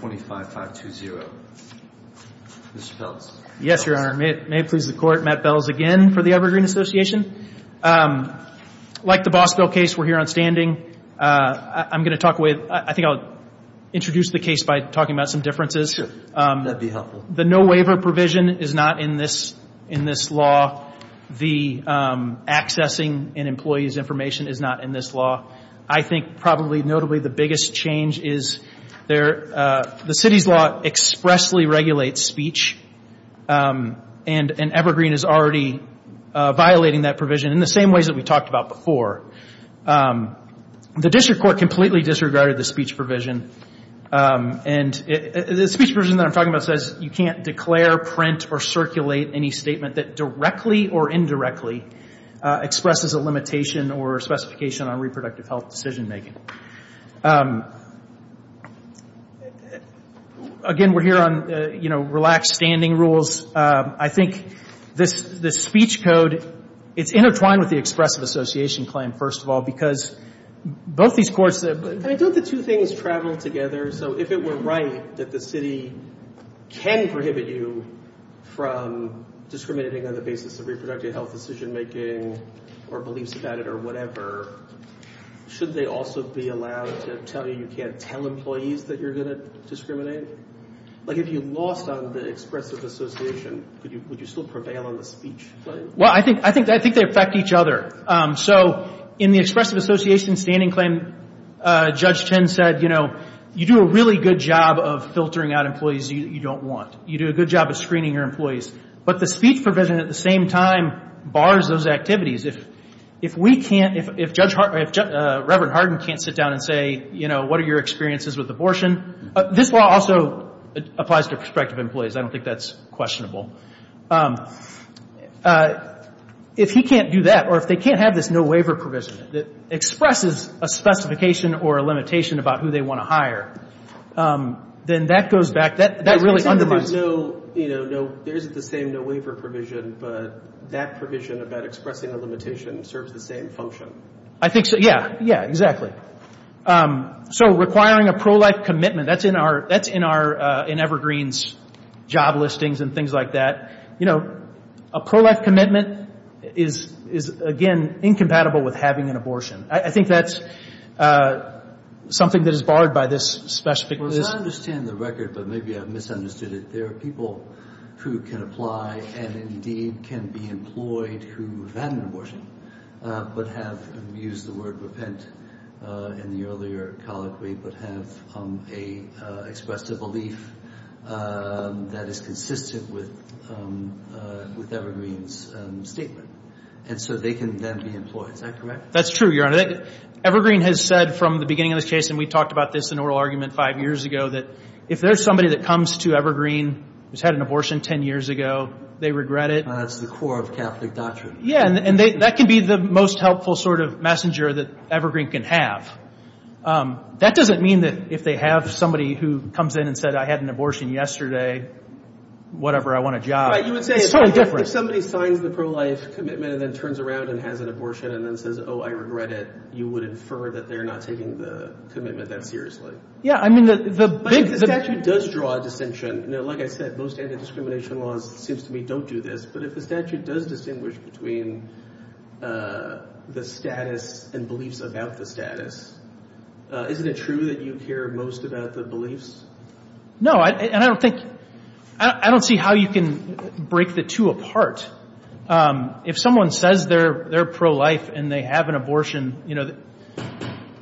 25 5 2 0 yes your honor may it may please the court Matt Bells again for the Evergreen Association like the Boswell case we're here on standing I'm gonna talk with I think I'll introduce the case by talking about some differences the no waiver provision is not in this in this law the accessing and employees information is not in this law I think probably notably the biggest change is there the city's law expressly regulate speech and an evergreen is already violating that provision in the same ways that we talked about before the district court completely disregarded the speech provision and the speech version that I'm talking about says you can't declare print or circulate any statement that directly or indirectly expresses a limitation or specification on reproductive health decision making again we're here on you know relaxed standing rules I think this the speech code it's intertwined with the Expressive Association claim first of all because both these courts that I don't the two things travel together so if it were right that the city can prohibit you from discriminating on the basis of decision-making or beliefs about it or whatever should they also be allowed to tell you you can't tell employees that you're gonna discriminate like if you lost on the Expressive Association could you would you still prevail on the speech well I think I think I think they affect each other so in the Expressive Association standing claim Judge Chen said you know you do a really good job of filtering out employees you don't want you do a good job of screening your employees but the speech provision at the same time bars those activities if if we can't if Judge Hartley if Reverend Hardin can't sit down and say you know what are your experiences with abortion this law also applies to prospective employees I don't think that's questionable if he can't do that or if they can't have this no waiver provision that expresses a specification or a limitation about who they want to hire then that goes back that that really undermines no you know no there isn't the same no waiver provision but that provision about expressing a limitation serves the same function I think so yeah yeah exactly so requiring a pro-life commitment that's in our that's in our in Evergreen's job listings and things like that you know a pro-life commitment is is again incompatible with having an abortion I think that's something that I understand the record but maybe I've misunderstood it there are people who can apply and indeed can be employed who have had an abortion but have used the word repent in the earlier colloquy but have a expressive belief that is consistent with with Evergreen's statement and so they can then be employed is that correct that's true your honor Evergreen has said from the beginning of this case and we talked about this in oral argument five years ago that if there's somebody that comes to Evergreen who's had an abortion ten years ago they regret it that's the core of Catholic doctrine yeah and they that can be the most helpful sort of messenger that Evergreen can have that doesn't mean that if they have somebody who comes in and said I had an abortion yesterday whatever I want a job somebody signs the pro-life commitment and then turns around and has an abortion and then says oh I regret it you would infer that they're not taking the commitment that seriously yeah I mean the big does draw a distinction like I said most anti-discrimination laws seems to me don't do this but if the statute does distinguish between the status and beliefs about the status isn't it true that you care most about the beliefs no I don't think I don't see how you can break the two apart if someone says they're they're pro-life and they have an abortion you know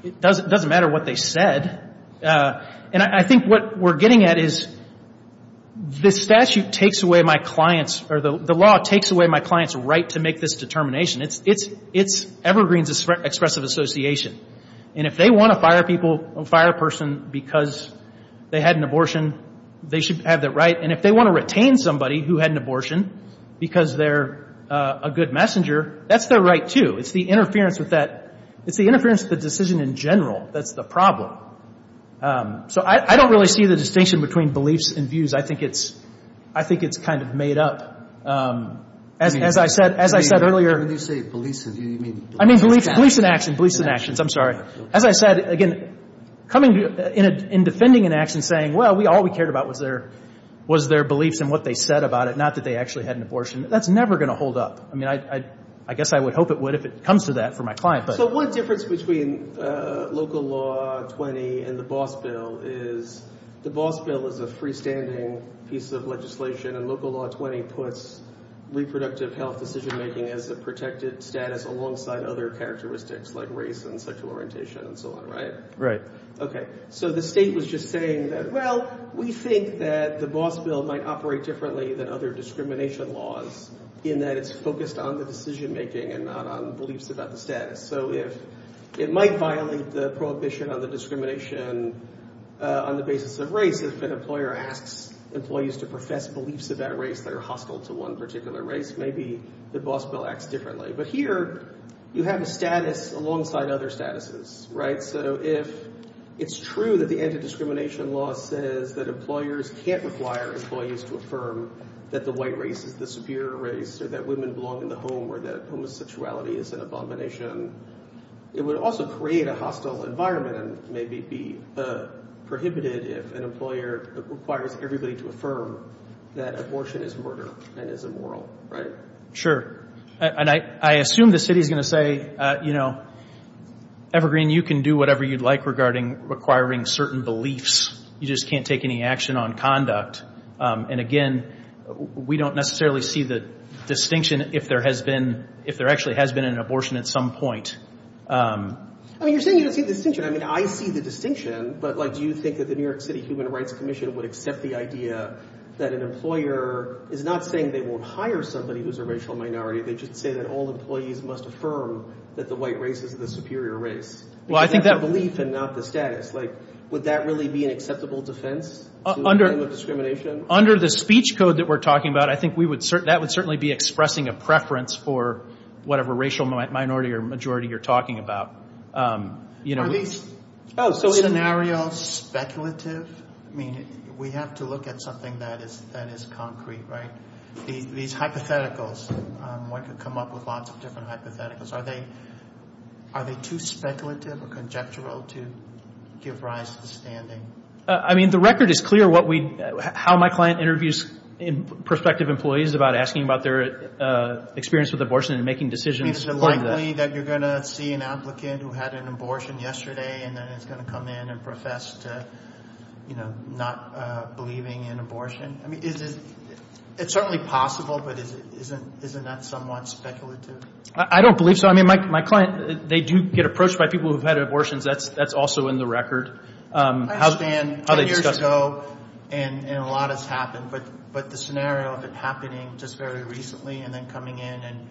it doesn't matter what they said and I think what we're getting at is this statute takes away my clients or the law takes away my clients right to make this determination it's it's it's Evergreen's expressive association and if they want to fire people a fire person because they had an abortion they should have that right and if they want to retain somebody who had an abortion because they're a good messenger that's their right to it's the interference with that it's the interference the decision in general that's the problem so I don't really see the distinction between beliefs and views I think it's I think it's kind of made up as I said as I said earlier I mean police police in action police in actions I'm sorry as I said again coming to you in a in defending an action saying well we all we cared about was there was their beliefs and what they said about it not that they actually had an abortion that's never gonna hold up I mean I I guess I would hope it would if it comes to that for my client but what difference between local law 20 and the boss bill is the boss bill is a freestanding piece of legislation and local law 20 puts reproductive health decision-making as a protected status alongside other characteristics like race and sexual orientation and so on right right okay so the state was just saying that well we think that the boss bill might operate differently than other discrimination laws in that it's focused on the decision-making and not on beliefs about the status so if it might violate the prohibition on the discrimination on the basis of race if an employer asks employees to profess beliefs about race that are hostile to one particular race maybe the boss bill acts differently but here you have a status alongside other statuses right so if it's true that the anti-discrimination law says that employers can't require employees to affirm that the white race is the superior race or that women belong in the home or that homosexuality is an abomination it would also create a hostile environment and maybe be prohibited if an employer requires everybody to affirm that abortion is murder and is immoral right sure and I assume the city is gonna say you know evergreen you can do whatever you'd like regarding requiring certain beliefs you just can't take any action on conduct and again we don't necessarily see the distinction if there has been if there actually has been an abortion at some point I mean I see the distinction but like do you think that the New York City Human Rights Commission would accept the idea that an employer is not saying they won't hire somebody who's a racial minority they just say that all employees must affirm that the white race is the superior race well I think that belief and not the status like would that really be an acceptable defense under the speech code that we're talking about I think we would certainly that would certainly be expressing a preference for whatever racial minority or majority you're talking about you know these scenarios speculative I mean we have to look at something that is that is concrete right these hypotheticals what could come up with lots of different hypotheticals are they are they too speculative or conjectural to give rise to the standing I mean the record is clear what we how my client interviews in prospective employees about asking about their experience with abortion and making decisions like that you're gonna see an applicant who had an abortion yesterday and then it's gonna come in and profess to you know not believing in abortion I mean is it it's certainly possible but is it isn't isn't that somewhat speculative I don't believe so I mean my client they do get approached by people who've had abortions that's that's also in the record how's man how they just go and a lot has happened but but the scenario of it happening just very recently and then coming in and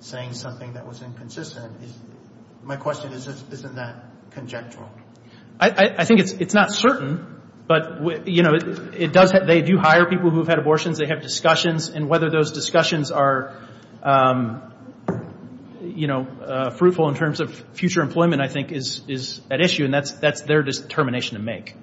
saying something that was inconsistent my question is isn't that conjectural I think it's it's not certain but you know it does that they do hire people who've had abortions they have discussions and whether those discussions are you know fruitful in future employment I think is is an issue and that's that's their determination to make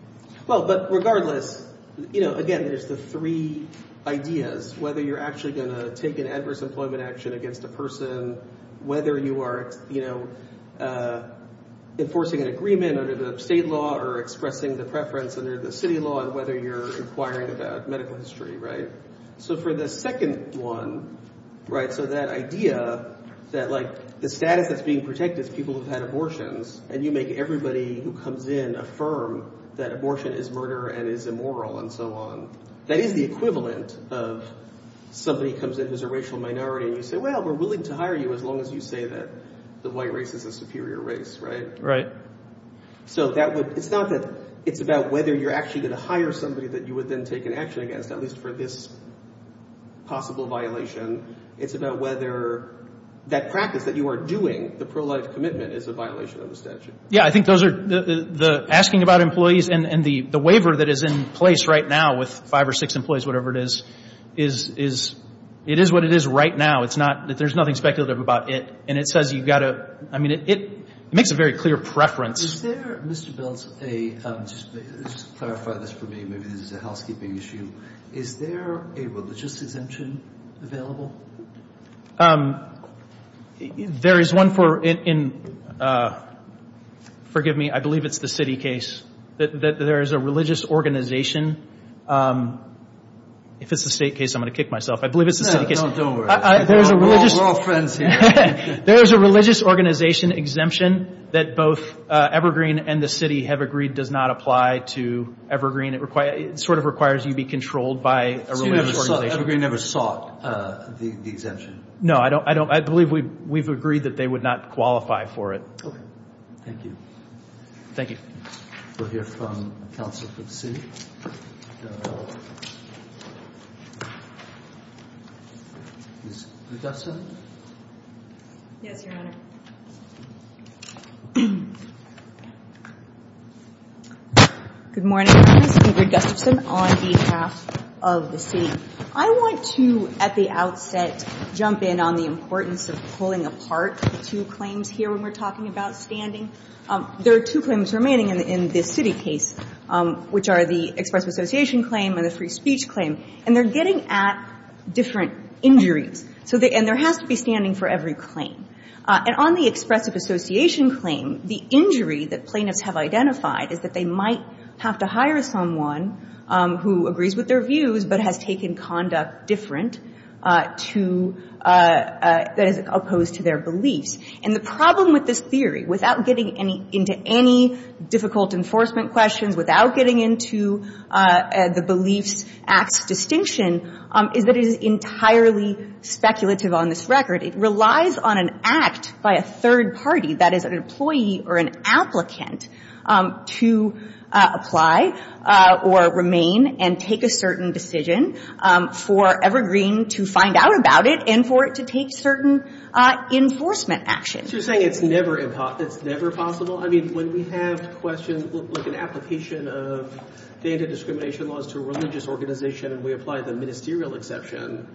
well but regardless you know again there's the three ideas whether you're actually gonna take an adverse employment action against a person whether you are you know enforcing an agreement under the state law or expressing the preference under the city law and whether you're inquiring about medical history right so for the second one right so that idea that like the status that's being protected people who've had abortions and you make everybody who comes in affirm that abortion is murder and is immoral and so on that is the equivalent of somebody comes in who's a racial minority and you say well we're willing to hire you as long as you say that the white race is a superior race right right so that would it's not that it's about whether you're actually going to hire somebody that you would then take an action against at least for this possible violation it's about whether that practice that you are doing the pro-life commitment is a violation of the statute yeah I think those are the the asking about employees and and the the waiver that is in place right now with five or six employees whatever it is is is it is what it is right now it's not that there's nothing speculative about it and it says you've got a I mean it makes a very clear preference is there there is one for in forgive me I believe it's the city case that there is a religious organization if it's the state case I'm going to kick myself I believe it's there's a religious there's a religious organization exemption that both evergreen and the city have agreed does not apply to evergreen it require sort of requires you be controlled by evergreen ever sought the exemption no I don't I don't I believe we we've agreed that they would not qualify for it thank you thank you good morning on behalf of the city I want to at the outset jump in on the importance of pulling apart two claims here when we're talking about standing there are two claims remaining in this city case which are the expressive association claim and the free speech claim and they're getting at different injuries so they and there has to be standing for every claim and on the expressive association claim the injury that plaintiffs have identified is that they might have to hire someone who agrees with their views but has taken conduct different to that is opposed to their beliefs and the problem with this theory without getting any into any difficult enforcement questions without getting into the beliefs acts distinction is that it is entirely speculative on this record it relies on an act by a third party that is an employee or an applicant to apply or remain and take a certain decision for evergreen to find out about it and for it to take certain enforcement actions you're saying it's never possible I mean when we have questions like an application of the anti-discrimination laws to religious organization and we apply the ministerial exception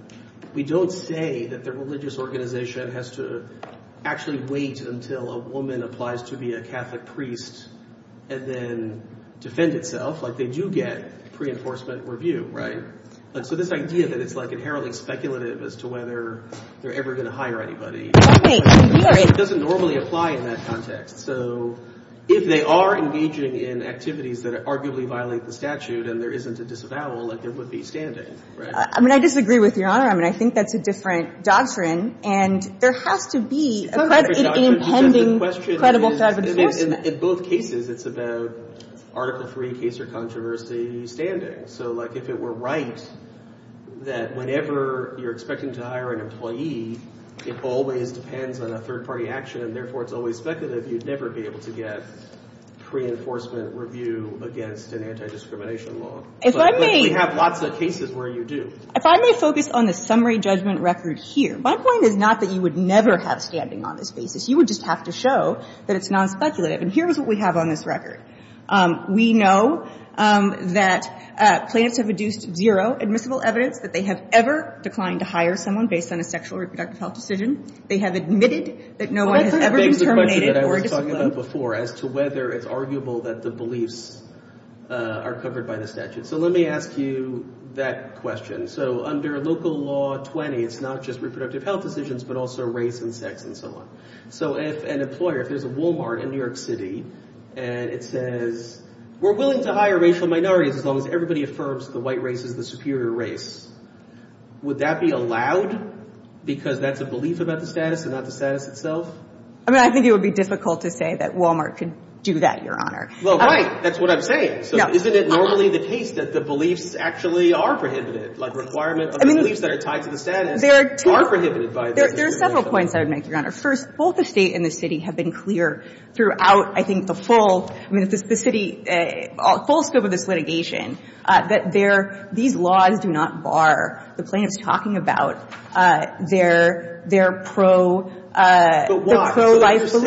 we don't say that the religious organization has to actually wait until a woman applies to be a Catholic priest and then defend itself like they do get pre-enforcement review right but so this idea that it's like inherently speculative as to whether they're ever going to hire anybody doesn't normally apply in that context so if they are engaging in activities that arguably violate the statute and there isn't a disavowal like it would be standing I mean I disagree with your honor I mean I think that's a different doctrine and there has to be a question in both cases it's about article 3 case or controversy standing so like if it were right that whenever you're expecting to hire an employee it always depends on a third party action and therefore it's always speculative you'd never be able to get pre-enforcement review against an anti-discrimination law if I may have lots of cases where you do if I may focus on the summary judgment record here my point is not that you would never have standing on this basis you would just have to show that it's non-speculative and here's what we have on this record we know that plaintiffs have reduced zero admissible evidence that they have ever declined to hire someone based on a sexual reproductive health decision they have admitted that no one has ever terminated before as to whether it's arguable that the beliefs are covered by the statute so let me ask you that question so under local law 20 it's not just reproductive health decisions but also race and sex and so on so if an employer if there's a Walmart in New York City and it says we're willing to hire racial minorities as long as everybody affirms the white race is the superior race would that be allowed because that's a belief about the status and not the status itself I mean I think it would be difficult to say that Walmart could do that your honor well right that's what I'm saying so isn't it normally the case that the beliefs actually are prohibited like requirement I mean these that are tied to the status there are prohibited by there's several points I would make your honor first both the state and the city have been clear throughout I think the full I mean if the city a full scope of this litigation that they're these laws do not bar the plaintiffs talking about their their pro life so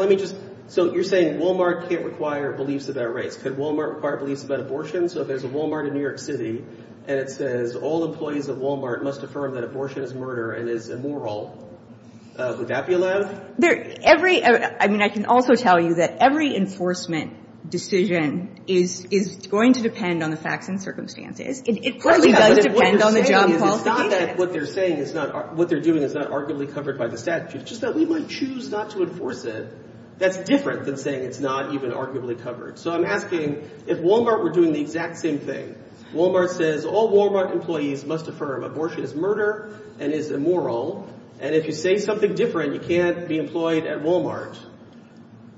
let me just so you're saying Walmart can't require beliefs of their race could Walmart require beliefs about abortion so if there's a Walmart in New York City and it says all employees of Walmart must affirm that abortion is murder and is moral would that be allowed there every I mean I can also tell you that every enforcement decision is is going to depend on the facts and circumstances what they're saying is not what they're doing is not arguably covered by the statute just that we might choose not to enforce it that's different than saying it's not even arguably covered so I'm asking if Walmart were doing the exact same thing Walmart says all Walmart employees must affirm abortion is murder and is immoral and if you say something different you can't be employed at Walmart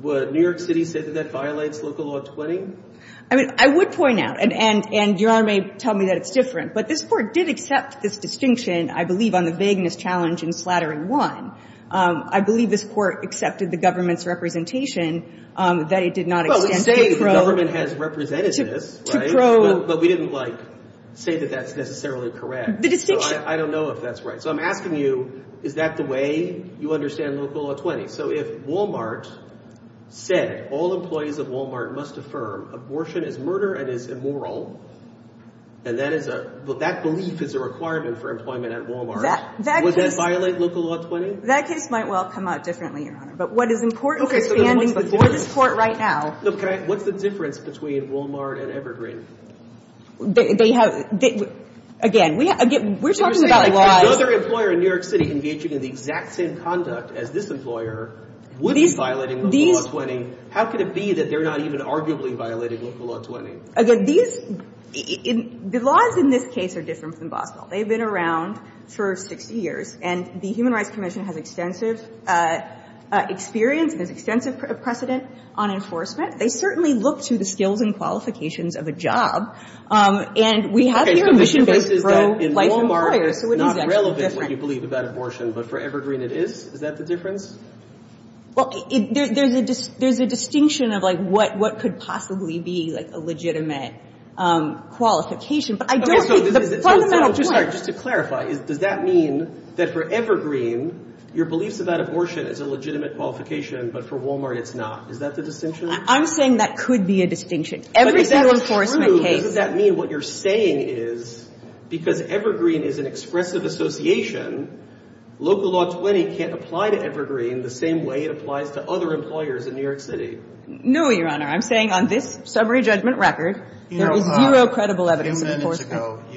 what New York City said that violates local law 20 I mean I would point out and and and your honor may tell me that it's different but this court did accept this distinction I believe on the vagueness challenge in slattering one I believe this court accepted the government's representation that it did not say that that's necessarily correct I don't know if that's right so I'm asking you is that the way you understand local a 20 so if Walmart said all employees of Walmart must affirm abortion is murder and is immoral and that is a that belief is a requirement for employment at Walmart that would that violate local law 20 that case might well come out differently your honor but what is important for this court right now okay what's the difference between Walmart and Evergreen they have again we get we're talking about a lot of other employer in New York City can get you to the exact same conduct as this employer would be violating these 20 how could it be that they're not even arguably violating local law 20 again these in the laws in this case are different than Boswell they've been around for 60 years and the Human Rights Commission has extensive experience and is extensive precedent on enforcement they certainly look to the skills and qualifications of a job and we have here a mission-based pro-life employer so it is actually different not relevant what you believe about abortion but for Evergreen it is is that the difference well there's a there's a distinction of like what what could possibly be like a legitimate qualification but I don't think the fundamental point just to clarify is does that mean that for Evergreen your beliefs about abortion is a legitimate qualification but for Walmart it's not is that the distinction I'm saying that could be a distinction every single enforcement case does that mean what you're saying is because Evergreen is an expressive association local law 20 can't apply to Evergreen the same way it applies to other employers in New York City no your honor I'm saying on this summary judgment record there is zero credible evidence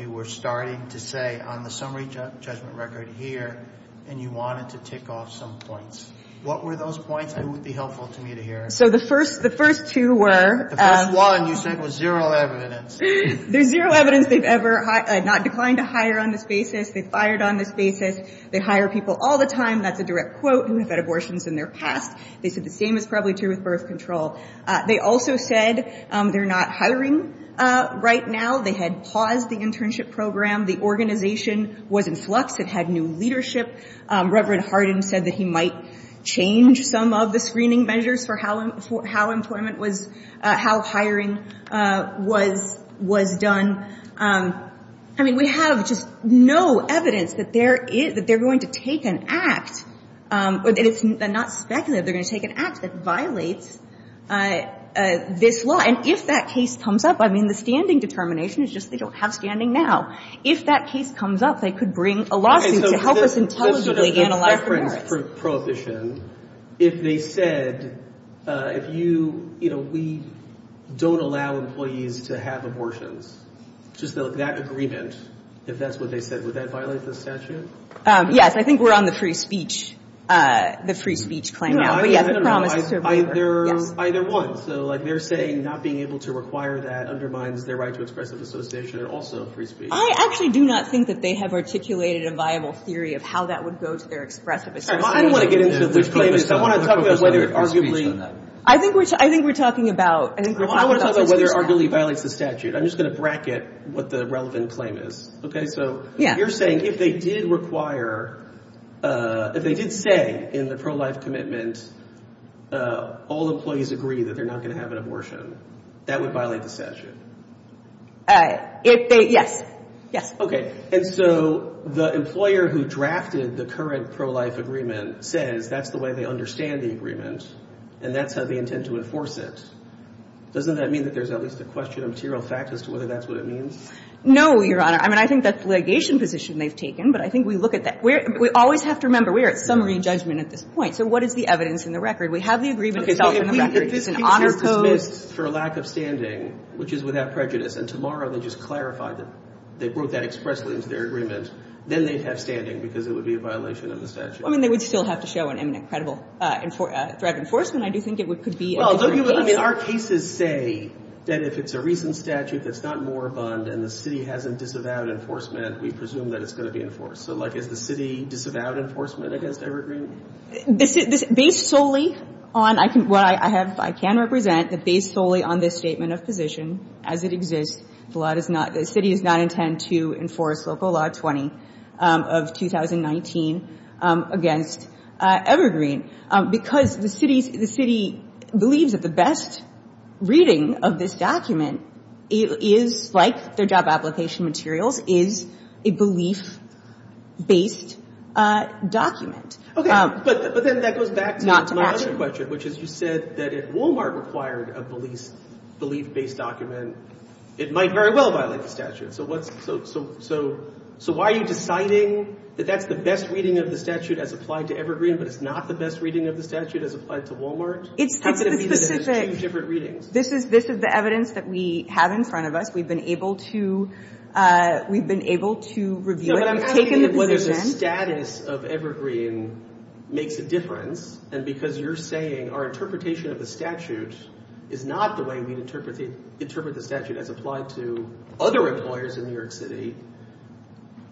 you were starting to say on the summary judgment record here and you wanted to tick off some points what were those points I would be helpful to me to hear so the first the first two were one you said was zero evidence there's zero evidence they've ever not declined to hire on this basis they fired on this basis they hire people all the time that's a direct quote who have had abortions in their past they said the same is probably true with birth control they also said they're not hiring right now they had paused the internship program the organization was in flux it had new leadership Reverend Hardin said that he might change some of the screening measures for how and for how employment was how hiring was was done I mean we have just no evidence that there is that they're going to take an act but it's not speculative they're going to take an act that violates this law and if that case comes up I mean the standing determination is just they don't have standing now if that case comes up they could bring a lawsuit to help us intelligently analyze prohibition if they said if you you know we don't allow employees to have abortions just like that agreement if that's what they said yes I think we're on the free speech the free speech claim either one so like they're saying not being able to require that undermines their right to expressive association and also free speech I actually do not think that they have articulated a viable theory of how that would go to their expressive I think which I think we're talking about whether arguably violates the I'm just going to bracket what the relevant claim is okay so yeah you're saying if they did require if they did say in the pro-life commitment all employees agree that they're not going to have an abortion that would violate the statute if they yes yes okay and so the employer who drafted the current pro-life agreement says that's the way they understand the agreement and that's how they intend to enforce it doesn't that mean that there's at least a question of material fact as to whether that's what it means no your honor I mean I think that's litigation position they've taken but I think we look at that we're we always have to remember we are at summary judgment at this point so what is the evidence in the record we have the agreement itself in the record it's an honor code for lack of standing which is without prejudice and tomorrow they just clarified that they broke that expressly into their agreement then they'd have standing because it would be a violation of the statute I mean they would still have to show an imminent credible and for threat enforcement I do think it would could be although you would I mean our cases say that if it's a recent statute that's not more abundant the city hasn't disavowed enforcement we presume that it's going to be enforced so like is the city disavowed enforcement against evergreen this is this based solely on I can well I have I can represent the base solely on this statement of position as it exists the lot is not the city is not intend to enforce local law 20 of 2019 against evergreen because the city's the city believes that the best reading of this document it is like their job application materials is a belief based document okay but then that goes back not to ask your question which is you said that it Walmart required a police belief based document it might very well violate the statute so what's so so so so why are you deciding that that's the best reading of the statute as applied to evergreen but it's not the best reading of the statute as applied to Walmart it's different readings this is this is the evidence that we have in front of us we've been able to we've been able to review it I'm taking the status of evergreen makes a difference and because you're saying our interpretation of the statute is not the interpret the statute as applied to other employers in New York City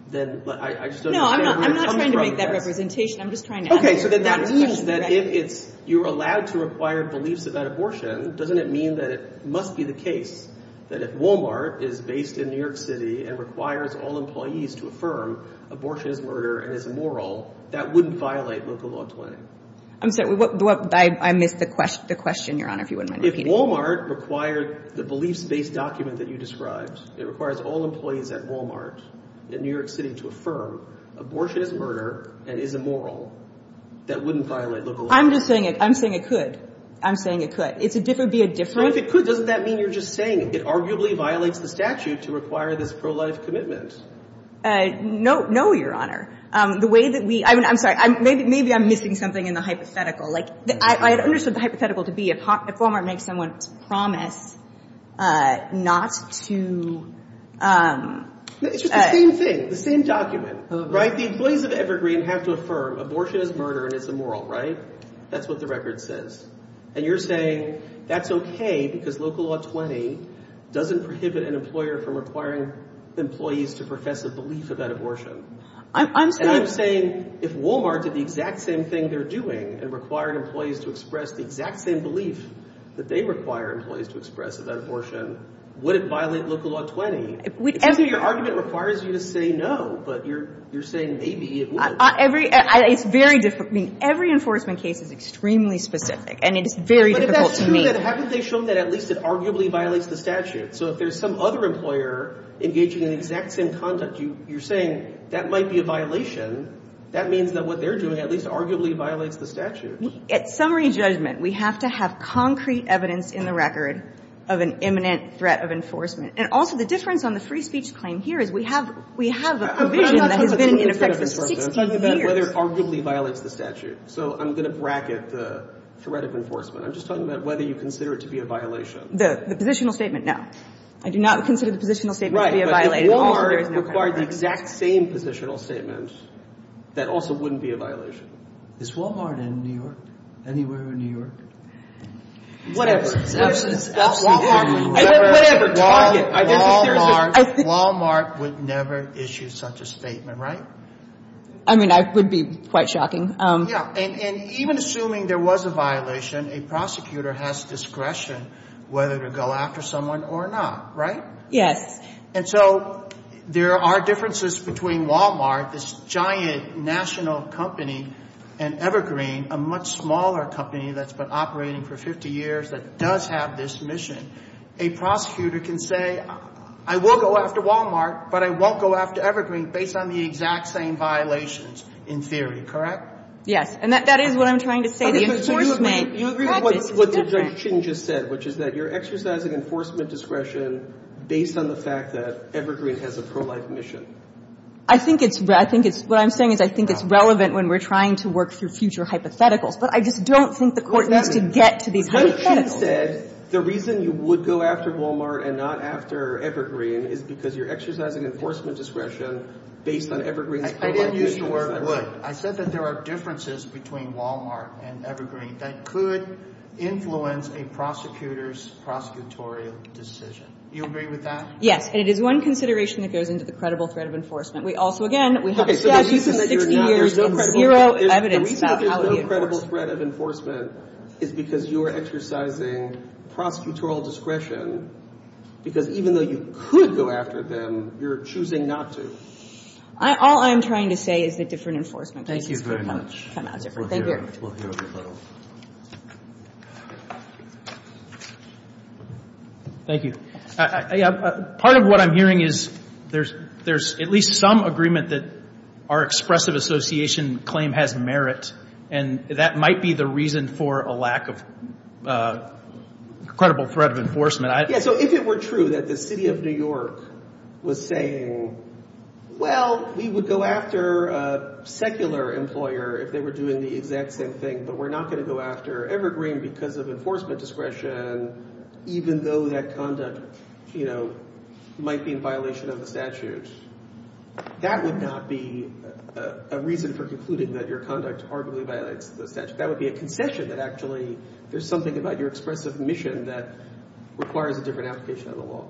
then I just don't know I'm not trying to make that representation I'm just trying to okay so then that means that if it's you're allowed to require beliefs about abortion doesn't it mean that it must be the case that if Walmart is based in New York City and requires all employees to affirm abortion is murder and it's immoral that wouldn't violate local law 20 I'm sorry what I missed the question the question your honor if you wouldn't mind if Walmart required the beliefs based document that you described it requires all employees at Walmart in New York City to affirm abortion is murder and is immoral that wouldn't violate local I'm just saying it I'm saying it could I'm saying it could it's a different be a different if it could doesn't that mean you're just saying it arguably violates the statute to require this pro-life commitment no no your honor the way that we I'm sorry I'm maybe maybe I'm missing something in the hypothetical like I understood the hypothetical to be a pop if Walmart makes someone's promise not to the same document right the employees of Evergreen have to affirm abortion is murder and it's immoral right that's what the record says and you're saying that's okay because local law 20 doesn't prohibit an employer from requiring employees to profess a belief of abortion I'm saying if Walmart did the exact same thing they're doing and required employees to express the exact same belief that they require employees to express about abortion would it violate local law 20 with every argument requires you to say no but you're you're saying maybe every it's very different mean every enforcement case is extremely specific and it's very difficult to me that at least it arguably violates the statute so if there's some other employer engaging in the exact same conduct you you're saying that might be a violation that means that what they're doing at least arguably violates the statute at summary judgment we have to have concrete evidence in the record of an imminent threat of enforcement and also the difference on the free speech claim here is we have we have whether arguably violates the statute so I'm gonna bracket the threat of enforcement I'm just talking about whether you consider it to be a violation the the positional statement now I do not consider the positional statement to be a violated or required the exact same positional statement that also wouldn't be a violation is Walmart in New York anywhere in New York whatever Walmart would never issue such a statement right I mean I would be quite shocking yeah and even assuming there was a violation a prosecutor has discretion whether to go after someone or not right yes and so there are differences between Walmart this giant national company and Evergreen a much smaller company that's been operating for 50 years that does have this mission a prosecutor can say I will go after Walmart but I won't go after Evergreen based on the exact same violations in theory correct yes and that that is what I'm trying to say the enforcement you agree with what Judge Chin just said which is that you're exercising enforcement discretion based on the fact that Evergreen has a pro-life mission I think it's I think it's what I'm saying is I think it's relevant when we're trying to work through future hypotheticals but I just don't think the court needs to get to these hypotheticals the reason you would go after Walmart and not after Evergreen is because you're exercising enforcement discretion based on Evergreen I didn't use the word would I said that there are differences between Walmart and Evergreen that could influence a prosecutor's prosecutorial decision you agree with that yes and it is one consideration that goes into the credible threat of enforcement we also again we have zero evidence the reason there's no credible threat of enforcement is because you are exercising prosecutorial discretion because even though you could go after them you're choosing not to all I'm trying to say is that different enforcement thank you very much thank you part of what I'm hearing is there's there's at least some agreement that our expressive association claim has merit and that might be the reason for a lack of credible threat of enforcement yeah so if it were true that the city of New York was saying well we would go after a secular employer if they were doing the exact same thing but we're not going to go after Evergreen because of enforcement discretion even though that conduct you know might be in violation of the statute that would not be a reason for concluding that your conduct arguably violates the statute that would be a concession that actually there's something about your expressive mission that requires a different application of the law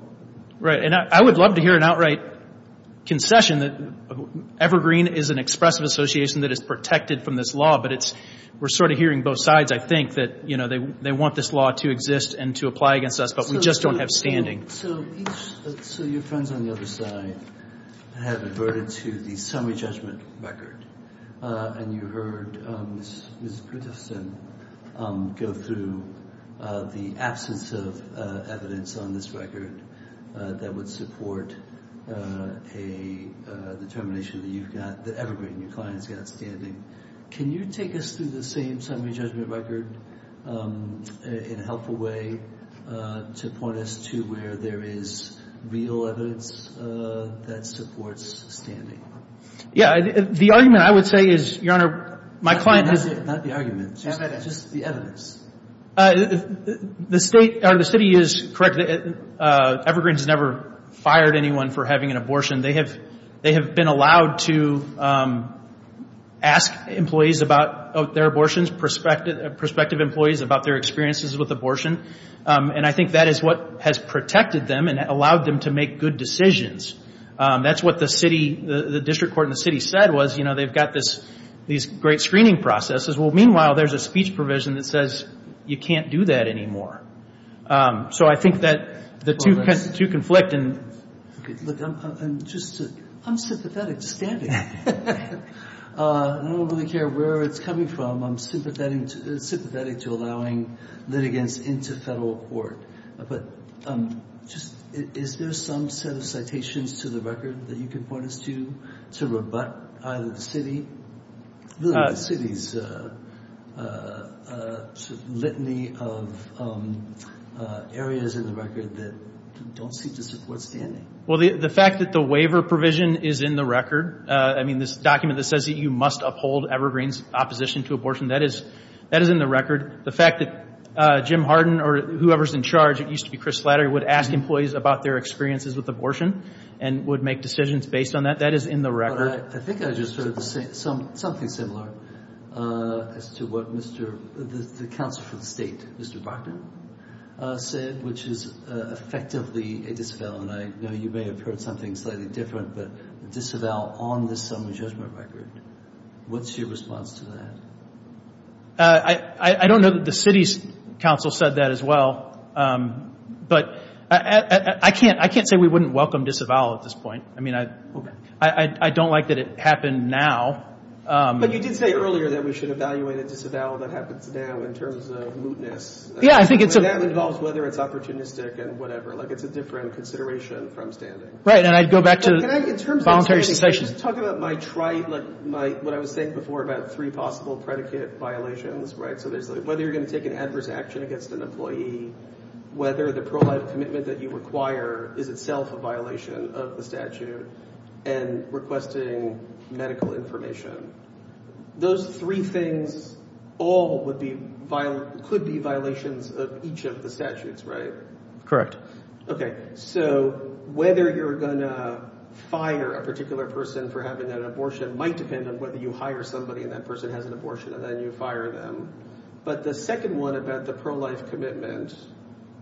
right and I would love to hear an outright concession that Evergreen is an expressive association that is protected from this law but it's we're sort of hearing both sides I think that you know they they want this law to exist and to apply against us but we just don't have standing so so your friends on the other side have averted to the summary judgment record uh and you heard um go through uh the absence of uh evidence on this record uh that would support uh a uh determination that you've got that Evergreen your client's got standing can you take us through the same record um in a helpful way uh to point us to where there is real evidence uh that supports standing yeah the argument I would say is your honor my client has not the argument just the evidence uh the state or the city is correct uh Evergreen's never fired anyone for having an they have been allowed to um ask employees about their abortions perspective prospective employees about their experiences with abortion um and I think that is what has protected them and allowed them to make good decisions um that's what the city the district court in the city said was you know they've got this these great screening processes well meanwhile there's a speech provision that says you can't do that anymore um so I think that the two two conflict and just I'm sympathetic to standing uh I don't really care where it's coming from I'm sympathetic sympathetic to allowing litigants into federal court but um just is there some set of citations to the record that you can point us to to rebut either the city the city's uh uh uh litany of um uh areas in the record that don't seem to support standing well the the fact that the waiver provision is in the record uh I mean this document that says that you must uphold Evergreen's opposition to abortion that is that is in the record the fact that uh Jim Harden or whoever's in charge it used to be Chris Slattery would ask employees about their experiences with abortion and would make decisions based on that that is in the record I think I just heard the same something similar uh as to what Mr. the counsel for the state Mr. Brockman said which is effectively a disavowal and I know you may have heard something slightly different but disavow on this summary judgment record what's your response to that I I don't know that the city's council said that as well um but I I can't I can't say we wouldn't welcome disavow at this point I mean I I I don't like that it happened now um but you did say earlier that we should evaluate a disavow that happens now in terms of mootness yeah I think it's that involves whether it's opportunistic and whatever like it's a different consideration from standing right and I'd go back to voluntary cessation talk about my trite like my what I was saying before about three possible predicate violations right so there's whether you're going to take an adverse action against an employee whether the pro-life commitment that you require is itself a violation of the statute and requesting medical information those three things all would be violent could be violations of each of the statutes right correct okay so whether you're gonna fire a particular person for having an abortion might depend on whether you hire somebody and that person has an abortion and then you fire them but the second one about the pro-life commitment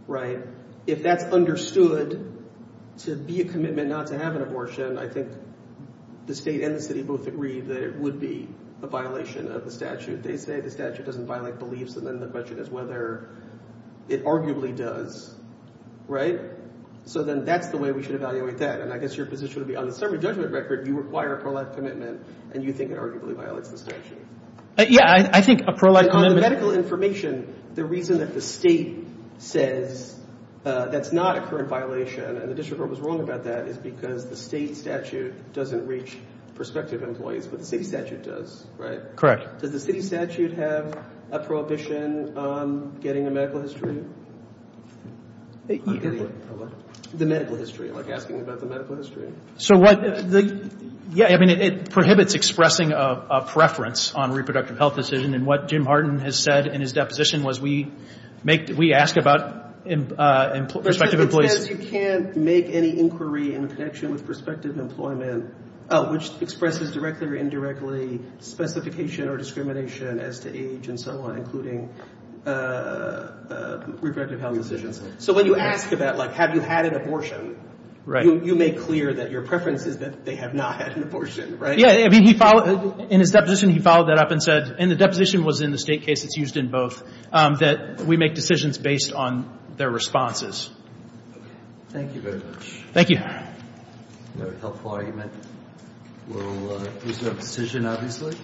right if that's understood to be a commitment not to have an abortion I think the state and the city both agree that it would be a violation of the statute they say the statute doesn't violate beliefs and then the question is whether it arguably does right so then that's the way we should evaluate that and I guess your position would be on the summary judgment record you require a pro-life commitment and you think it arguably violates the statute yeah I think a says that's not a current violation and the district court was wrong about that is because the state statute doesn't reach prospective employees but the city statute does right correct does the city statute have a prohibition on getting a medical history the medical history like asking about the medical history so what the yeah I mean it prohibits expressing a preference on reproductive health decision and what Jim Harden has said in his we ask about prospective employees you can't make any inquiry in connection with prospective employment which expresses directly or indirectly specification or discrimination as to age and so on including reproductive health decisions so when you ask about like have you had an abortion you make clear that your preference is that they have not had an abortion right yeah I mean he followed in his deposition he followed that up and said and the deposition was in the state case it's in both that we make decisions based on their responses thank you very much thank you very helpful argument we'll uh there's no decision obviously